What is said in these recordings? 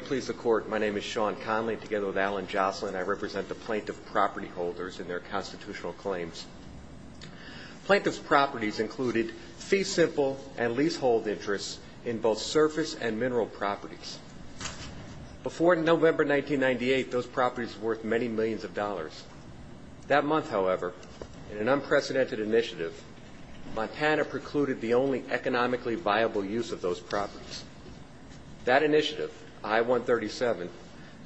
Please the court. My name is Sean Conley together with Alan Jocelyn. I represent the plaintiff property holders in their constitutional claims. Plaintiff's properties included fee simple and leasehold interests in both surface and mineral properties. Before November 1998 those properties worth many millions of dollars. That month, however, in an unprecedented initiative, Montana precluded the only economically viable use of those properties. That initiative, I-137,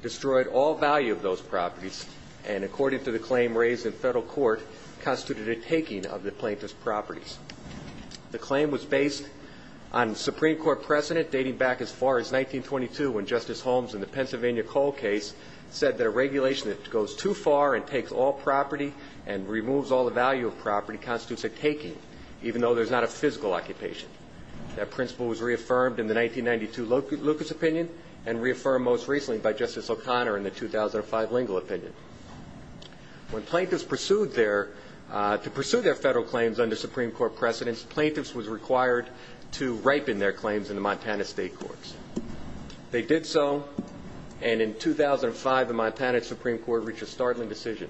destroyed all value of those properties and according to the claim raised in federal court, constituted a taking of the plaintiff's properties. The claim was based on Supreme Court precedent dating back as far as 1922 when Justice Holmes in the Pennsylvania Cole case said that a regulation that goes too far and takes all property and removes all the value of property constitutes a taking, even though there's not a physical occupation. That principle was reaffirmed in the 1992 Lucas opinion and reaffirmed most recently by Justice O'Connor in the 2005 Lingle opinion. When plaintiffs pursued their, to pursue their federal claims under Supreme Court precedence, plaintiffs was required to ripen their claims in the Montana state courts. They did so and in 2005 the Montana Supreme Court reached a startling decision.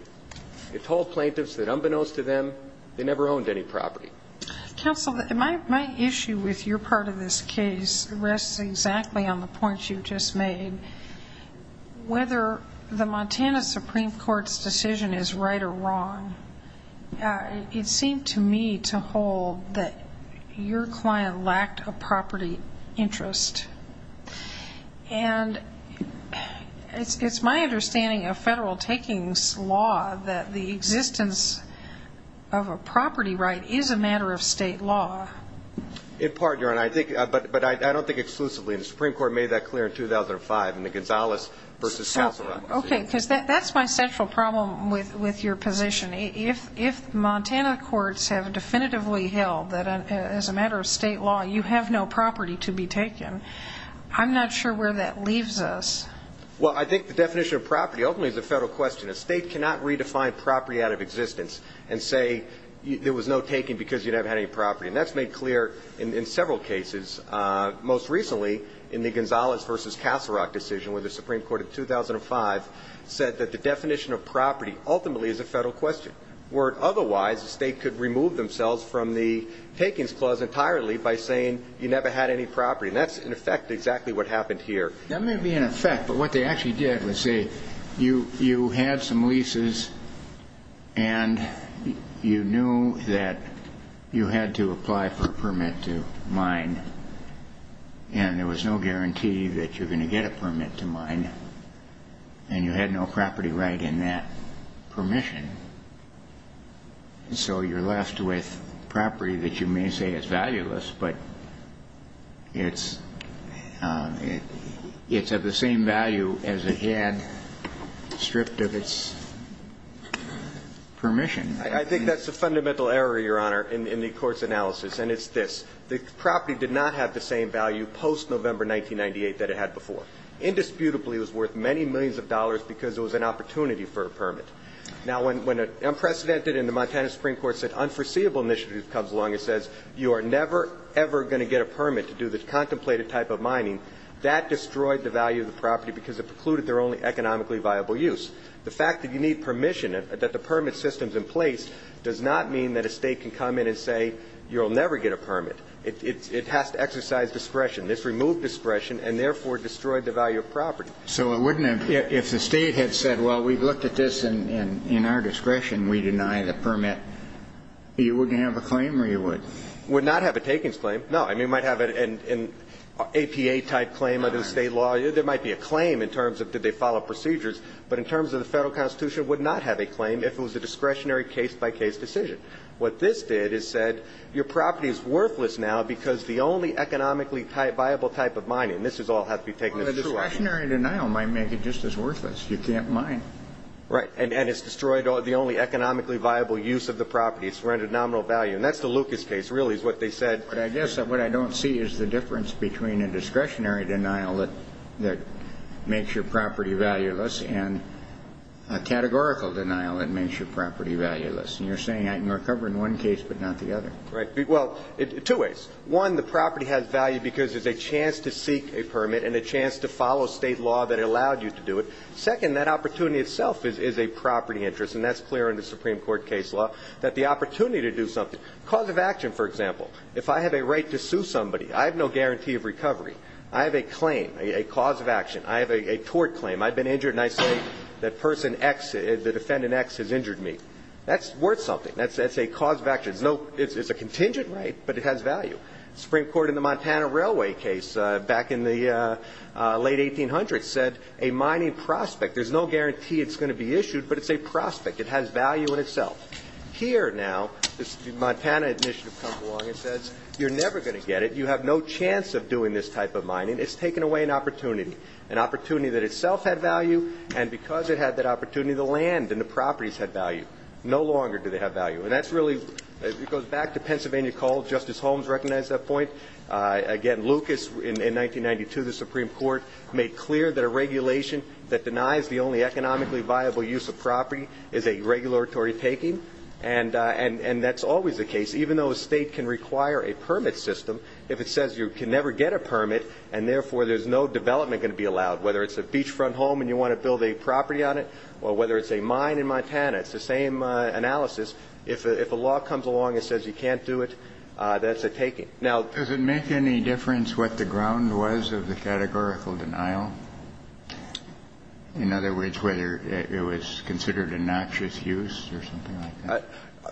It told plaintiffs that unbeknownst to them, they never owned any property. Counsel, my issue with your part of this case rests exactly on the points you've just made. Whether the Montana Supreme Court's decision is right or wrong, it seemed to me to hold that your client lacked a property interest. And it's my understanding of federal takings law that the existence of a property right is a matter of state law. In part, Your Honor, I think, but I don't think exclusively. The Supreme Court made that clear in 2005 in the Gonzales v. Casaro. So, okay, because that's my central problem with your position. If Montana courts have definitively held that as a matter of state law, you have no property to be taken, I'm not sure where that leaves us. Well, I think the definition of property ultimately is a federal question. A state cannot redefine property out of existence and say there was no taking because you never had any property. And that's made clear in several cases. Most recently, in the Gonzales v. Casaro decision with the Supreme Court in 2005, said that the definition of property ultimately is a federal question. Where otherwise, the state could remove themselves from the takings clause entirely by saying you never had any property. And that's, in effect, exactly what happened here. That may be in effect, but what they actually did was say you had some leases and you knew that you had to apply for a permit to mine. And there was no guarantee that you're going to get a permit to mine. And you had no property right in that permission. So, you're left with property that you may say is valueless, but it's of the same value as it had stripped of its permission. I think that's a fundamental error, Your Honor, in the court's analysis. And it's this, the property did not have the same value post-November 1998 that it had before. Indisputably, it was worth many millions of dollars because it was an opportunity for a permit. Now, when an unprecedented and the Montana Supreme Court said unforeseeable initiative comes along and says you are never, ever going to get a permit to do the contemplated type of mining, that destroyed the value of the property because it precluded their only economically viable use. The fact that you need permission, that the permit system's in place, does not mean that a state can come in and say you'll never get a permit. It has to exercise discretion. This removed discretion and therefore destroyed the value of property. So, it wouldn't have, if the state had said, well, we've looked at this and in our discretion, we deny the permit, you wouldn't have a claim or you would? Would not have a takings claim, no. I mean, might have an APA type claim under the state law. There might be a claim in terms of did they follow procedures, but in terms of the federal constitution, would not have a claim if it was a discretionary case-by-case decision. What this did is said, your property is worthless now because the only economically viable type of mining, and this is all has to be taken in this way. Discretionary denial might make it just as worthless. You can't mine. Right. And it's destroyed the only economically viable use of the property. It's rendered nominal value. And that's the Lucas case, really, is what they said. But I guess what I don't see is the difference between a discretionary denial that makes your property valueless and a categorical denial that makes your property valueless. And you're saying I can recover in one case, but not the other. Right. Well, two ways. One, the property has value because there's a chance to seek a permit and a chance to follow state law that allowed you to do it. Second, that opportunity itself is a property interest. And that's clear in the Supreme Court case law, that the opportunity to do something, cause of action, for example. If I have a right to sue somebody, I have no guarantee of recovery. I have a claim, a cause of action. I have a tort claim. I've been injured. And I say that person X, the defendant X, has injured me. That's worth something. That's a cause of action. It's a contingent right, but it has value. Supreme Court in the Montana Railway case back in the late 1800s said a mining prospect, there's no guarantee it's going to be issued, but it's a prospect. It has value in itself. Here now, this Montana initiative comes along and says, you're never going to get it. You have no chance of doing this type of mining. It's taken away an opportunity, an opportunity that itself had value. And because it had that opportunity, the land and the properties had value. No longer do they have value. And that's really it goes back to Pennsylvania called Justice Holmes recognized that point again. Lucas, in 1992, the Supreme Court made clear that a regulation that denies the only economically viable use of property is a regulatory taking. And and that's always the case, even though a state can require a permit system. If it says you can never get a permit and therefore there's no development going to be allowed, whether it's a beachfront home and you want to build a property on it or whether it's a mine in Montana, it's the same analysis. If a law comes along and says you can't do it, that's a taking. Now, does it make any difference what the ground was of the categorical denial? In other words, whether it was considered a noxious use or something like that.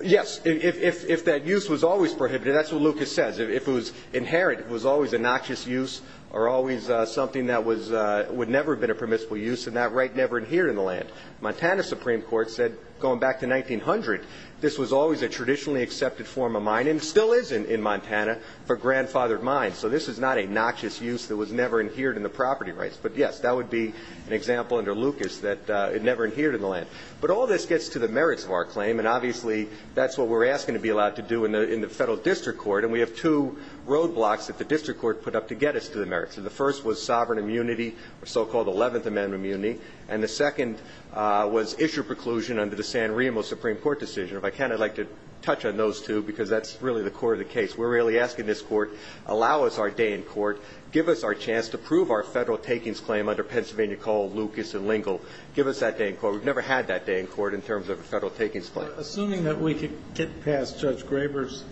Yes. If that use was always prohibited, that's what Lucas says. If it was inherent, it was always a noxious use or always something that was would never have been a permissible use. And that right never adhered in the land. Montana Supreme Court said going back to 1900, this was always a traditionally accepted form of mining still is in Montana for grandfathered mine. So this is not a noxious use that was never adhered in the property rights. But yes, that would be an example under Lucas that it never adhered in the land. But all this gets to the merits of our claim. And obviously, that's what we're asking to be allowed to do in the federal district court. And we have two roadblocks that the district court put up to get us to the merits of the first was sovereign immunity or so-called 11th Amendment immunity. And the second was issue preclusion under the San Remo Supreme Court decision. If I can, I'd like to touch on those two, because that's really the core of the case. We're really asking this court, allow us our day in court, give us our chance to prove our federal takings claim under Pennsylvania Coal, Lucas and Lingle. Give us that day in court. We've never had that day in court in terms of a federal takings claim. Assuming that we could get past Judge Graber's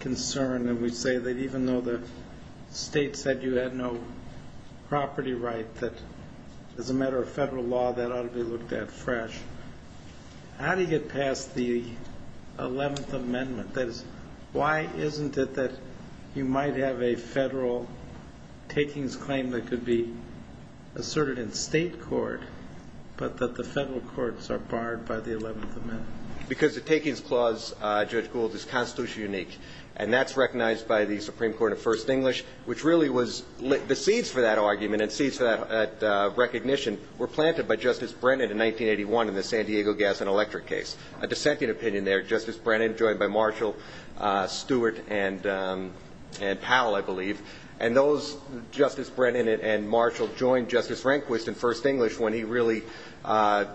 concern and we say that even though the state said you had no property right, that as a matter of federal law, that ought to be looked at fresh. That is, why isn't it that you might have a federal takings claim that could be asserted in state court, but that the federal courts are barred by the 11th Amendment? Because the takings clause, Judge Gould, is constitutionally unique. And that's recognized by the Supreme Court of First English, which really was the seeds for that argument and seeds for that recognition were planted by Justice Brennan in 1981 in the San Diego gas and electric case. A dissenting opinion there, Justice Brennan joined by Marshall, Stewart, and Powell, I believe. And those, Justice Brennan and Marshall, joined Justice Rehnquist in First English when he really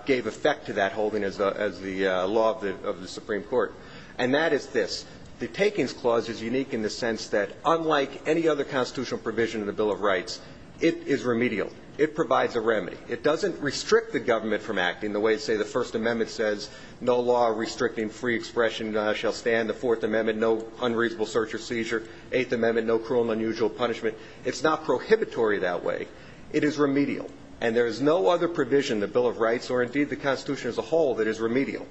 gave effect to that holding as the law of the Supreme Court. And that is this. The takings clause is unique in the sense that unlike any other constitutional provision in the Bill of Rights, it is remedial. It provides a remedy. It doesn't restrict the government from acting the way, say, the First Amendment says, no law restricting free expression shall stand. The Fourth Amendment, no unreasonable search or seizure. Eighth Amendment, no cruel and unusual punishment. It's not prohibitory that way. It is remedial. And there is no other provision in the Bill of Rights, or indeed the Constitution as a whole, that is remedial.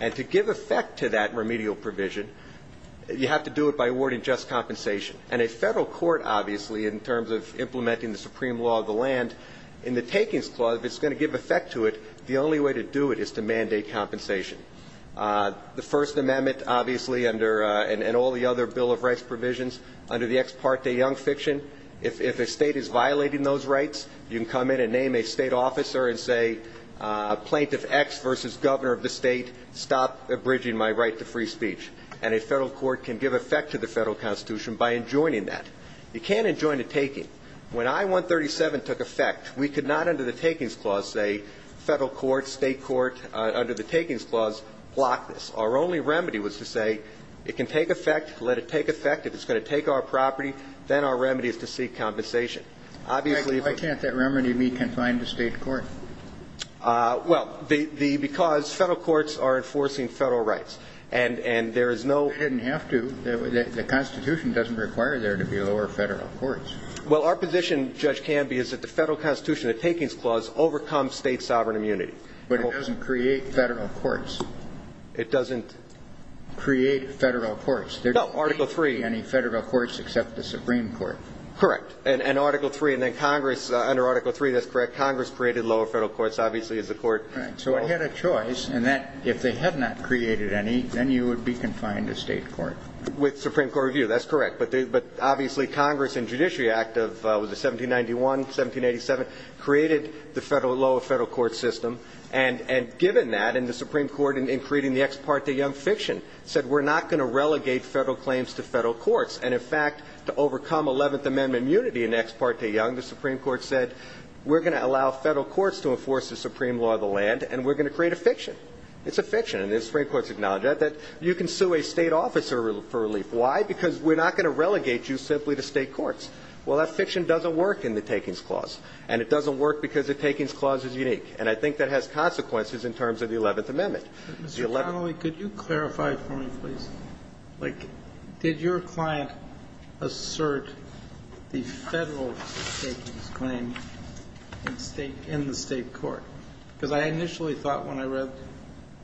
And to give effect to that remedial provision, you have to do it by awarding just compensation. And a federal court, obviously, in terms of implementing the supreme law of the land, in the takings clause, if it's going to give effect to it, the only way to do it is to mandate compensation. The First Amendment, obviously, and all the other Bill of Rights provisions, under the ex parte young fiction, if a state is violating those rights, you can come in and name a state officer and say, plaintiff X versus governor of the state, stop abridging my right to free speech. And a federal court can give effect to the federal Constitution by enjoining that. You can't enjoin a taking. When I-137 took effect, we could not, under the takings clause, say, federal court, state court, under the takings clause, block this. Our only remedy was to say, it can take effect, let it take effect. If it's going to take our property, then our remedy is to seek compensation. Obviously, if it's going to take effect, then our remedy is to seek compensation. Roberts. Kennedy. Why can't that remedy be confined to state court? Well, because federal courts are enforcing federal rights. And there is no- They didn't have to. The Constitution doesn't require there to be lower federal courts. Well, our position, Judge Canby, is that the federal Constitution, the takings clause, overcomes state sovereign immunity. But it doesn't create federal courts. It doesn't- Create federal courts. No, Article III. Any federal courts except the Supreme Court. Correct. And Article III, and then Congress, under Article III, that's correct, Congress created lower federal courts, obviously, as the court- Right. So it had a choice, and that, if they had not created any, then you would be confined to state court. With Supreme Court review, that's correct. But obviously, Congress, in Judiciary Act of, was it 1791, 1787, created the lower federal court system. And given that, and the Supreme Court, in creating the Ex Parte Young fiction, said, we're not going to relegate federal claims to federal courts. And, in fact, to overcome Eleventh Amendment immunity in Ex Parte Young, the Supreme Court said, we're going to allow federal courts to enforce the supreme law of the land. And we're going to create a fiction. It's a fiction. And the Supreme Court has acknowledged that. That you can sue a state officer for relief. Why? Because we're not going to relegate you simply to state courts. Well, that fiction doesn't work in the Takings Clause. And it doesn't work because the Takings Clause is unique. And I think that has consequences in terms of the Eleventh Amendment. Mr. Connolly, could you clarify for me, please? Like, did your client assert the federal Takings Claim in state, in the state court? Because I initially thought when I read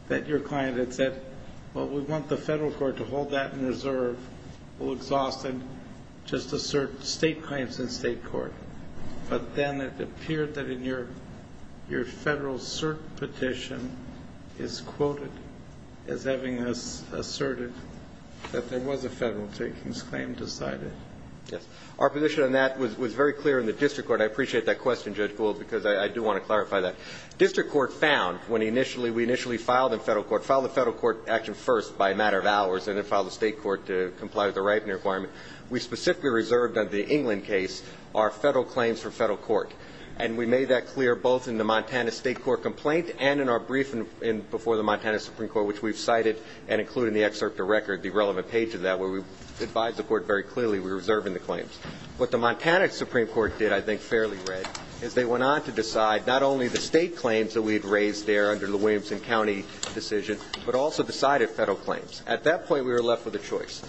that your client had said, well, we want the federal court to hold that in reserve. We'll exhaust it, just assert state claims in state court. But then it appeared that in your federal cert petition is quoted as having asserted that there was a federal Takings Claim decided. Yes. Our position on that was very clear in the district court. I appreciate that question, Judge Gould, because I do want to clarify that. District court found, when we initially filed in federal court, filed the federal court action first by a matter of hours, and then filed the state court to comply with the ripening requirement. We specifically reserved on the England case our federal claims for federal court. And we made that clear both in the Montana state court complaint and in our briefing before the Montana Supreme Court, which we've cited and included in the excerpt of record, the relevant page of that, where we advised the court very clearly we were reserving the claims. What the Montana Supreme Court did, I think, fairly well, is they went on to decide not only the state claims that we've raised there under the Williamson County decision, but also decided federal claims. At that point, we were left with a choice.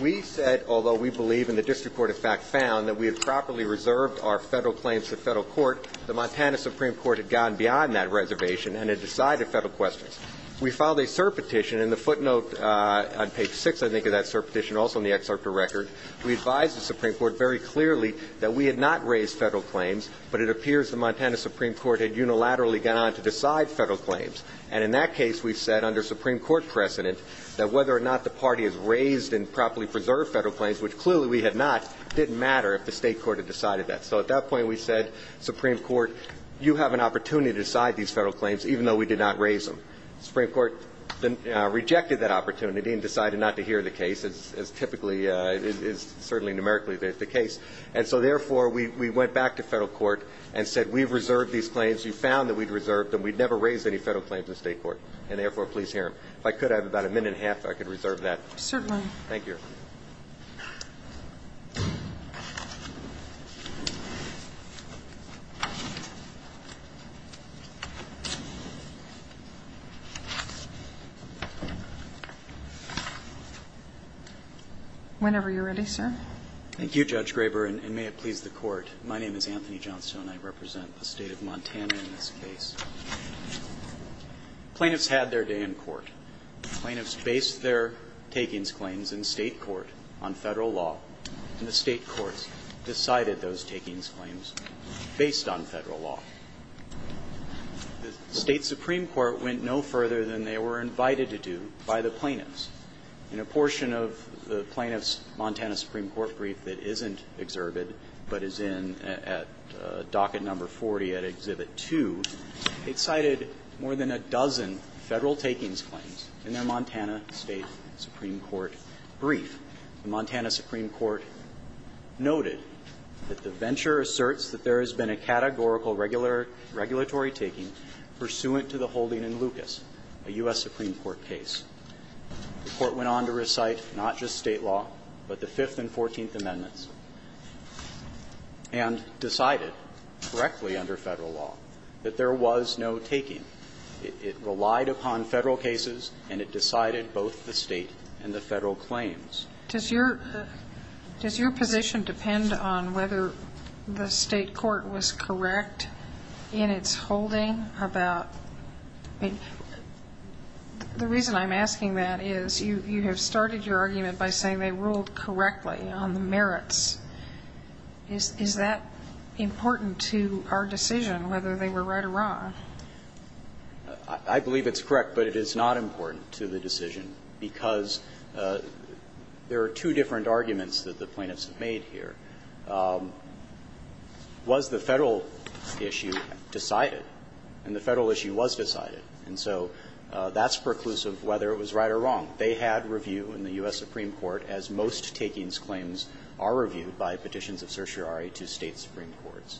We said, although we believe in the district court, in fact, found that we had properly reserved our federal claims to federal court, the Montana Supreme Court had gone beyond that reservation and had decided federal questions. We filed a cert petition in the footnote on page six, I think, of that cert petition, also in the excerpt of record. We advised the Supreme Court very clearly that we had not raised federal claims, but it appears the Montana Supreme Court had unilaterally gone on to decide federal claims. And in that case, we've said under Supreme Court precedent that whether or not the party has raised and properly preserved federal claims, which clearly we had not, didn't matter if the state court had decided that. So at that point, we said, Supreme Court, you have an opportunity to decide these federal claims, even though we did not raise them. Supreme Court then rejected that opportunity and decided not to hear the case, as typically is certainly numerically the case. And so therefore, we went back to federal court and said, we've reserved these claims. We found that we'd reserved them. We'd never raised any federal claims in state court. And therefore, please hear him. If I could have about a minute and a half, I could reserve that. Certainly. Thank you. Whenever you're ready, sir. Thank you, Judge Graber. And may it please the court. My name is Anthony Johnstone. I represent the state of Montana in this case. Plaintiffs had their day in court. Plaintiffs based their takings claims in state court on federal law, and the state courts decided those takings claims based on federal law. The state supreme court went no further than they were invited to do by the plaintiffs. In a portion of the plaintiffs' Montana supreme court brief that isn't exerted but is in at docket number 40 at Exhibit 2, it cited more than a dozen federal takings claims in their Montana state supreme court brief. The Montana supreme court noted that the venture asserts that there has been a categorical regulatory taking pursuant to the holding in Lucas, a U.S. supreme court case. The court went on to recite not just state law, but the Fifth and Fourteenth Amendments. And decided correctly under federal law that there was no taking. It relied upon federal cases, and it decided both the state and the federal claims. Does your position depend on whether the state court was correct in its holding about the reason I'm asking that is you have started your argument by saying they ruled correctly on the merits. Is that important to our decision, whether they were right or wrong? I believe it's correct, but it is not important to the decision. Because there are two different arguments that the plaintiffs have made here. Was the federal issue decided? And the federal issue was decided. And so that's preclusive whether it was right or wrong. They had review in the U.S. supreme court, as most takings claims are reviewed by petitions of certiorari to state supreme courts.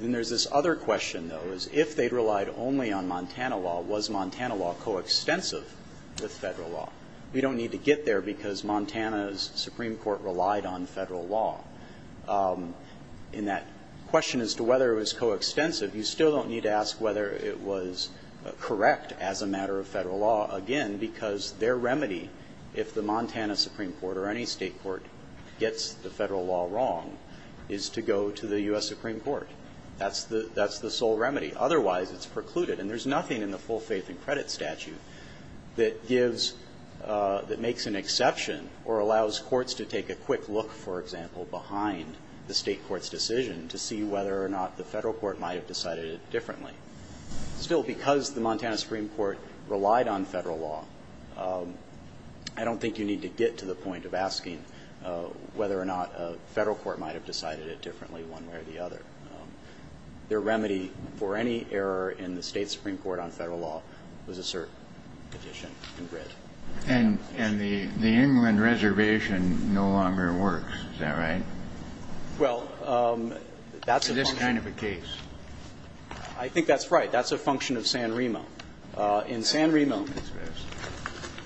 Then there's this other question, though, is if they relied only on Montana law, was Montana law coextensive with federal law? We don't need to get there because Montana's supreme court relied on federal law. In that question as to whether it was coextensive, you still don't need to ask whether it was correct as a matter of federal law, again, because their remedy, if the Montana supreme court or any state court gets the federal law wrong, is to go to the U.S. supreme court. That's the sole remedy. Otherwise, it's precluded. And there's nothing in the full faith and credit statute that gives or makes an exception or allows courts to take a quick look, for example, behind the state court's decision to see whether or not the federal court might have decided it differently. Still, because the Montana supreme court relied on federal law, I don't think you need to get to the point of asking whether or not a federal court might have decided it differently one way or the other. Their remedy for any error in the state supreme court on federal law was a cert petition in grid. And the England reservation no longer works, is that right? Well, that's a function of the case. I think that's right. That's a function of San Remo. In San Remo,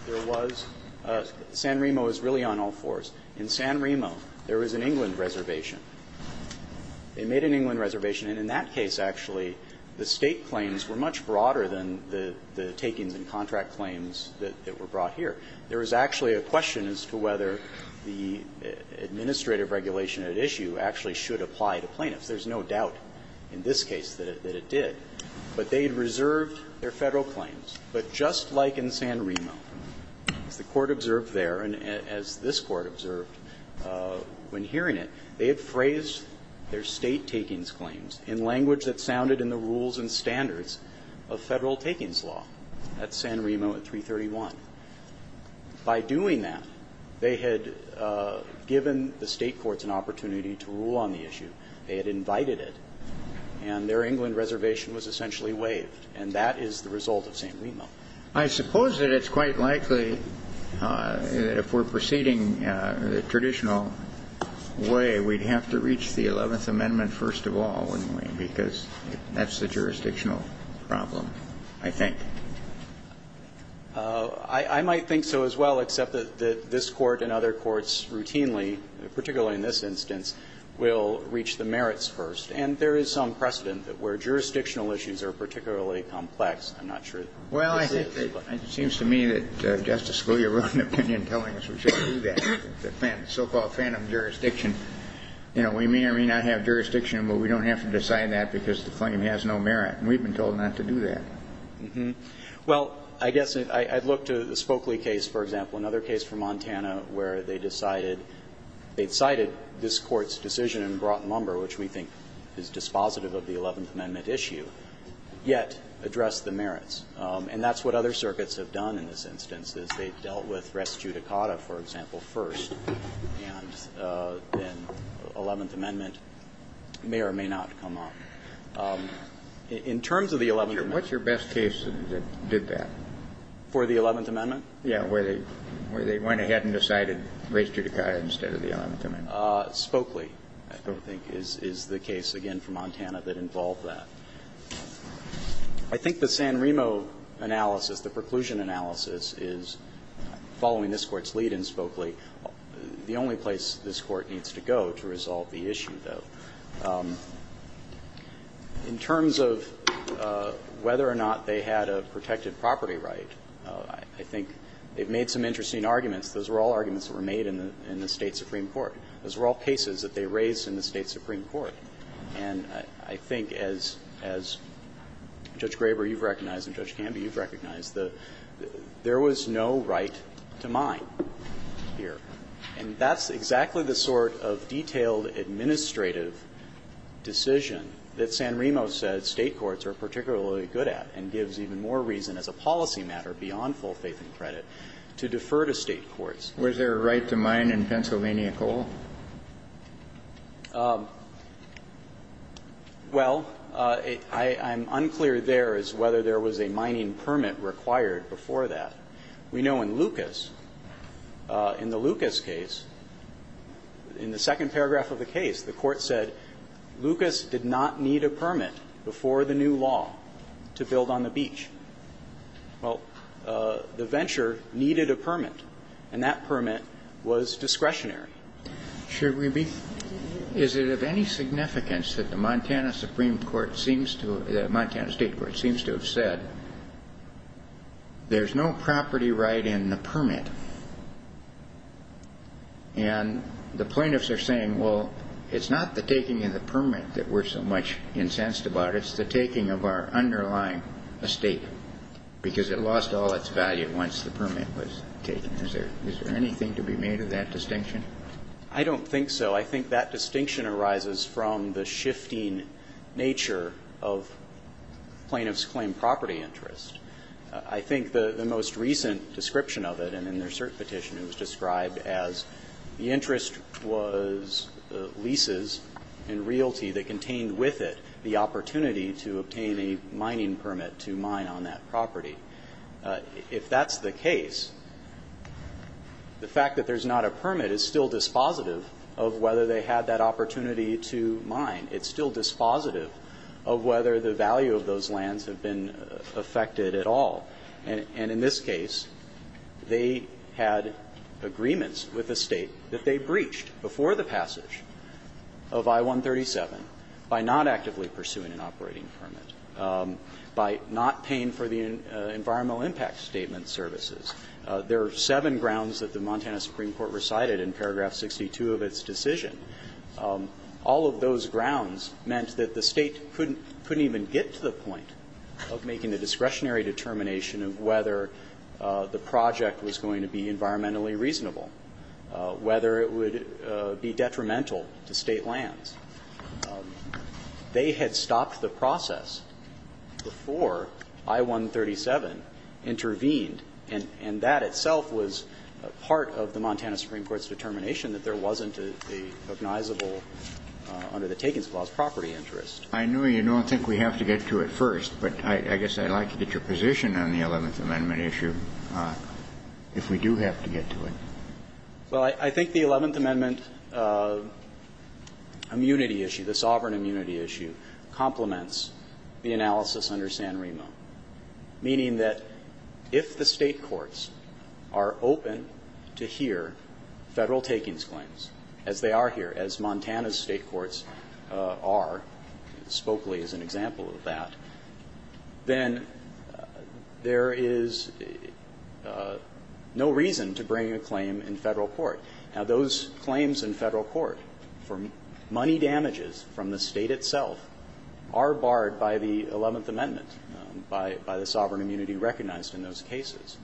there was San Remo is really on all fours. In San Remo, there was an England reservation. They made an England reservation. And in that case, actually, the State claims were much broader than the takings and contract claims that were brought here. There was actually a question as to whether the administrative regulation at issue actually should apply to plaintiffs. There's no doubt in this case that it did. But they had reserved their Federal claims. But just like in San Remo, as the Court observed there and as this Court observed when hearing it, they had phrased their State takings claims in language that sounded in the rules and standards of Federal takings law at San Remo at 331. By doing that, they had given the State courts an opportunity to rule on the issue. They had invited it. And their England reservation was essentially waived. And that is the result of San Remo. Kennedy, I suppose that it's quite likely that if we're proceeding the traditional way, we'd have to reach the Eleventh Amendment first of all, wouldn't we, because that's the jurisdictional problem, I think. I might think so as well, except that this Court and other courts routinely, particularly in this instance, will reach the merits first. And there is some precedent that where jurisdictional issues are particularly complex, I'm not sure. Well, I think it seems to me that Justice Scalia wrote an opinion telling us we shouldn't do that, the so-called phantom jurisdiction. You know, we may or may not have jurisdiction, but we don't have to decide that because the claim has no merit. And we've been told not to do that. Well, I guess I'd look to the Spokley case, for example, another case from Montana where they decided they cited this Court's decision in broad number, which we think is dispositive of the Eleventh Amendment issue, yet address the merits. And that's what other circuits have done in this instance, is they've dealt with res judicata, for example, first, and then Eleventh Amendment may or may not come up. In terms of the Eleventh Amendment ---- Kennedy, what's your best case that did that? For the Eleventh Amendment? Yes, where they went ahead and decided res judicata instead of the Eleventh Amendment. Spokley, I think, is the case, again, from Montana that involved that. I think the San Remo analysis, the preclusion analysis, is, following this Court's lead in Spokley, the only place this Court needs to go to resolve the issue, though. In terms of whether or not they had a protected property right, I think they've made some interesting arguments. Those were all arguments that were made in the State supreme court. Those were all cases that they raised in the State supreme court. And I think, as Judge Graber, you've recognized, and Judge Canby, you've recognized, there was no right to mine here. And that's exactly the sort of detailed administrative decision that San Remo says State courts are particularly good at and gives even more reason as a policy matter, beyond full faith and credit, to defer to State courts. Was there a right to mine in Pennsylvania Coal? Well, I'm unclear there as whether there was a mining permit required before that. We know in Lucas, in the Lucas case, in the second paragraph of the case, the Court said Lucas did not need a permit before the new law to build on the beach. Well, the venture needed a permit. And that permit was discretionary. Should we be? Is it of any significance that the Montana supreme court seems to – the Montana State court seems to have said there's no property right in the permit? And the plaintiffs are saying, well, it's not the taking of the permit that we're so much incensed about. It's the taking of our underlying estate, because it lost all its value once the Is there anything to be made of that distinction? I don't think so. I think that distinction arises from the shifting nature of plaintiff's claim property interest. I think the most recent description of it, and in their cert petition, it was described as the interest was leases and realty that contained with it the opportunity to obtain a mining permit to mine on that property. If that's the case, the fact that there's not a permit is still dispositive of whether they had that opportunity to mine. It's still dispositive of whether the value of those lands have been affected at all. And in this case, they had agreements with the State that they breached before the passage of I-137 by not actively pursuing an operating permit, by not paying for the environmental impact statement services. There are seven grounds that the Montana Supreme Court recited in paragraph 62 of its decision. All of those grounds meant that the State couldn't even get to the point of making the discretionary determination of whether the project was going to be environmentally reasonable, whether it would be detrimental to State lands. They had stopped the process before I-137 intervened, and that itself was part of the Montana Supreme Court's determination that there wasn't a recognizable under the Takens Clause property interest. I know you don't think we have to get to it first, but I guess I'd like to get your position on the Eleventh Amendment issue if we do have to get to it. Well, I think the Eleventh Amendment immunity issue, the sovereign immunity issue, complements the analysis under Sanremo, meaning that if the State courts are open to hear Federal takings claims, as they are here, as Montana's State courts are, Spokely is an example of that, then there is no reason to bring a claim to the Federal court. Now, those claims in Federal court for money damages from the State itself are barred by the Eleventh Amendment, by the sovereign immunity recognized in those cases.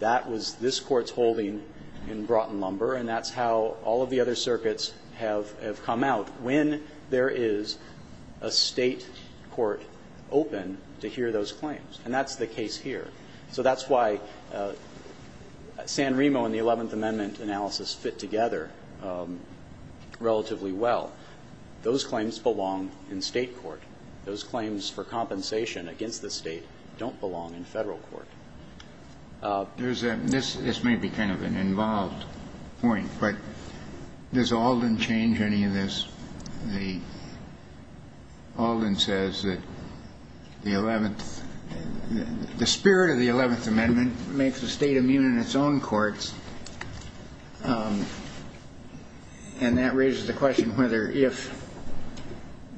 That was this Court's holding in Broughton Lumber, and that's how all of the other circuits have come out when there is a State court open to hear those claims. And that's the case here. So that's why Sanremo and the Eleventh Amendment analysis fit together relatively well. Those claims belong in State court. Those claims for compensation against the State don't belong in Federal court. There's a miss – this may be kind of an involved point, but does Alden change any of this? The – Alden says that the Eleventh – the spirit of the Eleventh Amendment makes the State immune in its own courts, and that raises the question whether if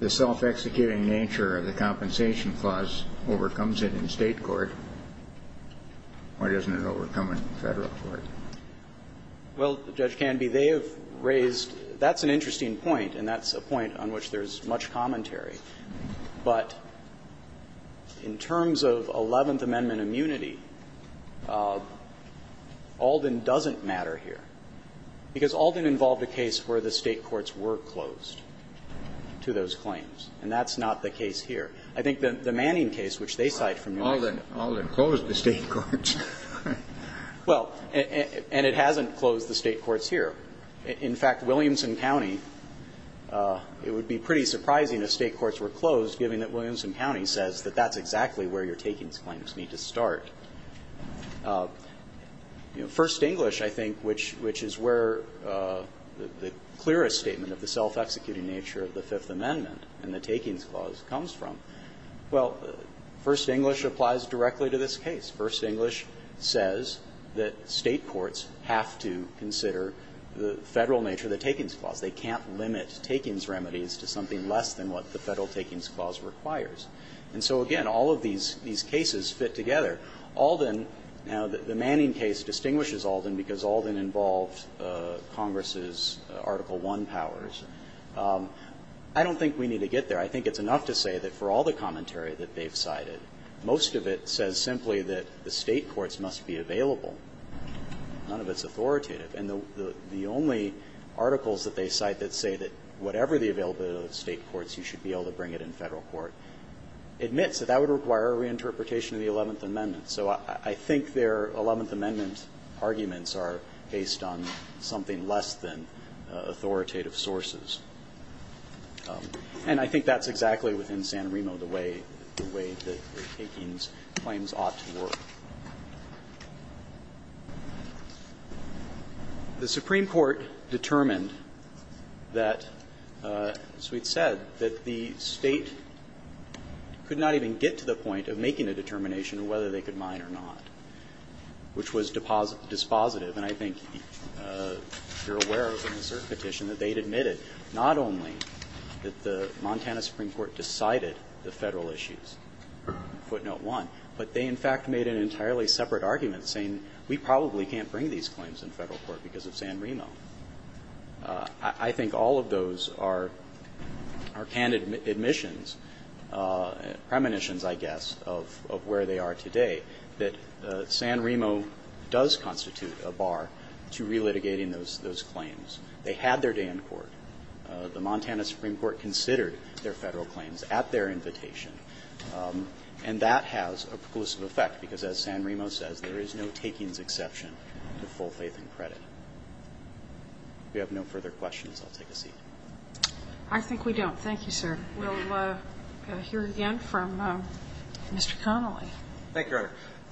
the self-executing nature of the compensation clause overcomes it in State court, why doesn't it overcome it in Federal court? Well, Judge Canby, they have raised – that's an interesting point. And that's a point on which there's much commentary. But in terms of Eleventh Amendment immunity, Alden doesn't matter here, because Alden involved a case where the State courts were closed to those claims. And that's not the case here. I think the Manning case, which they cite from United States. Alden closed the State courts. Well, and it hasn't closed the State courts here. In fact, Williamson County, it would be pretty surprising if State courts were closed, given that Williamson County says that that's exactly where your takings claims need to start. First English, I think, which is where the clearest statement of the self-executing nature of the Fifth Amendment and the takings clause comes from, well, First English applies directly to this case. First English says that State courts have to consider the Federal nature of the takings clause. They can't limit takings remedies to something less than what the Federal takings clause requires. And so, again, all of these cases fit together. Alden – now, the Manning case distinguishes Alden because Alden involved Congress's Article I powers. I don't think we need to get there. I think it's enough to say that for all the commentary that they've cited, most of it says simply that the State courts must be available. None of it's authoritative. And the only articles that they cite that say that whatever the availability of the State courts, you should be able to bring it in Federal court admits that that would require a reinterpretation of the Eleventh Amendment. So I think their Eleventh Amendment arguments are based on something less than authoritative sources. And I think that's exactly, within San Remo, the way the way that the takings claims ought to work. The Supreme Court determined that, as we've said, that the State could not even get to the point of making a determination of whether they could mine or not, which was dispositive. And I think you're aware of an assert petition that they'd admitted, not only that the Montana Supreme Court decided the Federal issues, footnote one, but they, in fact, made an entirely separate argument saying we probably can't bring these claims in Federal court because of San Remo. I think all of those are candid admissions, premonitions, I guess, of where they are to relitigating those claims. They had their day in court. The Montana Supreme Court considered their Federal claims at their invitation. And that has a preclusive effect because, as San Remo says, there is no takings exception to full faith and credit. If we have no further questions, I'll take a seat. I think we don't. Thank you, sir. We'll hear again from Mr. Connolly. Thank you, Your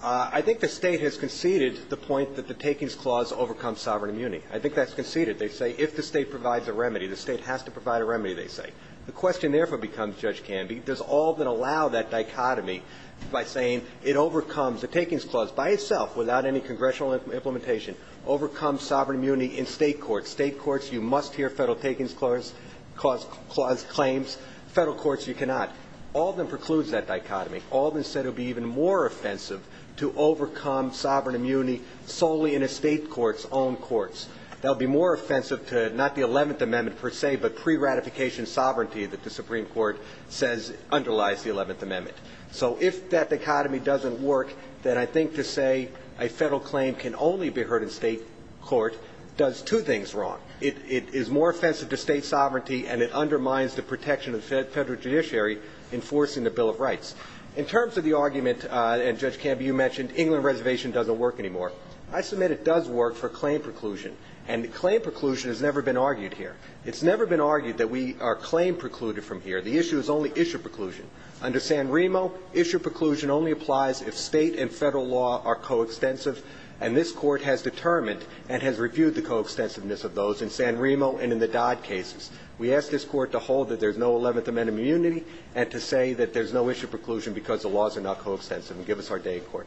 Honor. I think the State has conceded the point that the takings clause overcomes sovereign immunity. I think that's conceded. They say if the State provides a remedy, the State has to provide a remedy, they say. The question, therefore, becomes, Judge Canvey, does Alden allow that dichotomy by saying it overcomes the takings clause by itself without any congressional implementation, overcomes sovereign immunity in State courts. State courts, you must hear Federal takings clause claims, Federal courts, you cannot. Alden precludes that dichotomy. Alden said it would be even more offensive to overcome sovereign immunity solely in a State court's own courts. That would be more offensive to not the 11th Amendment, per se, but pre-ratification sovereignty that the Supreme Court says underlies the 11th Amendment. So if that dichotomy doesn't work, then I think to say a Federal claim can only be heard in State court does two things wrong. It is more offensive to State sovereignty, and it undermines the protection of the Federal judiciary enforcing the Bill of Rights. In terms of the argument, and Judge Canvey, you mentioned, England Reservation doesn't work anymore. I submit it does work for claim preclusion, and claim preclusion has never been argued here. It's never been argued that we are claim precluded from here. The issue is only issue preclusion. Under San Remo, issue preclusion only applies if State and Federal law are coextensive, and this Court has determined and has reviewed the coextensiveness of those in San Remo and in the Dodd cases. We ask this Court to hold that there's no 11th Amendment immunity, and to say that there's no issue preclusion because the laws are not coextensive, and give us our day in court.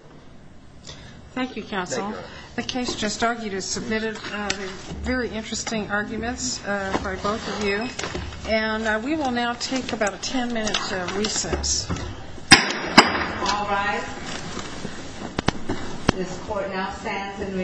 Thank you, Counsel. The case just argued is submitted, very interesting arguments by both of you, and we will now take about a 10-minute recess. All rise. This Court now stands in recess.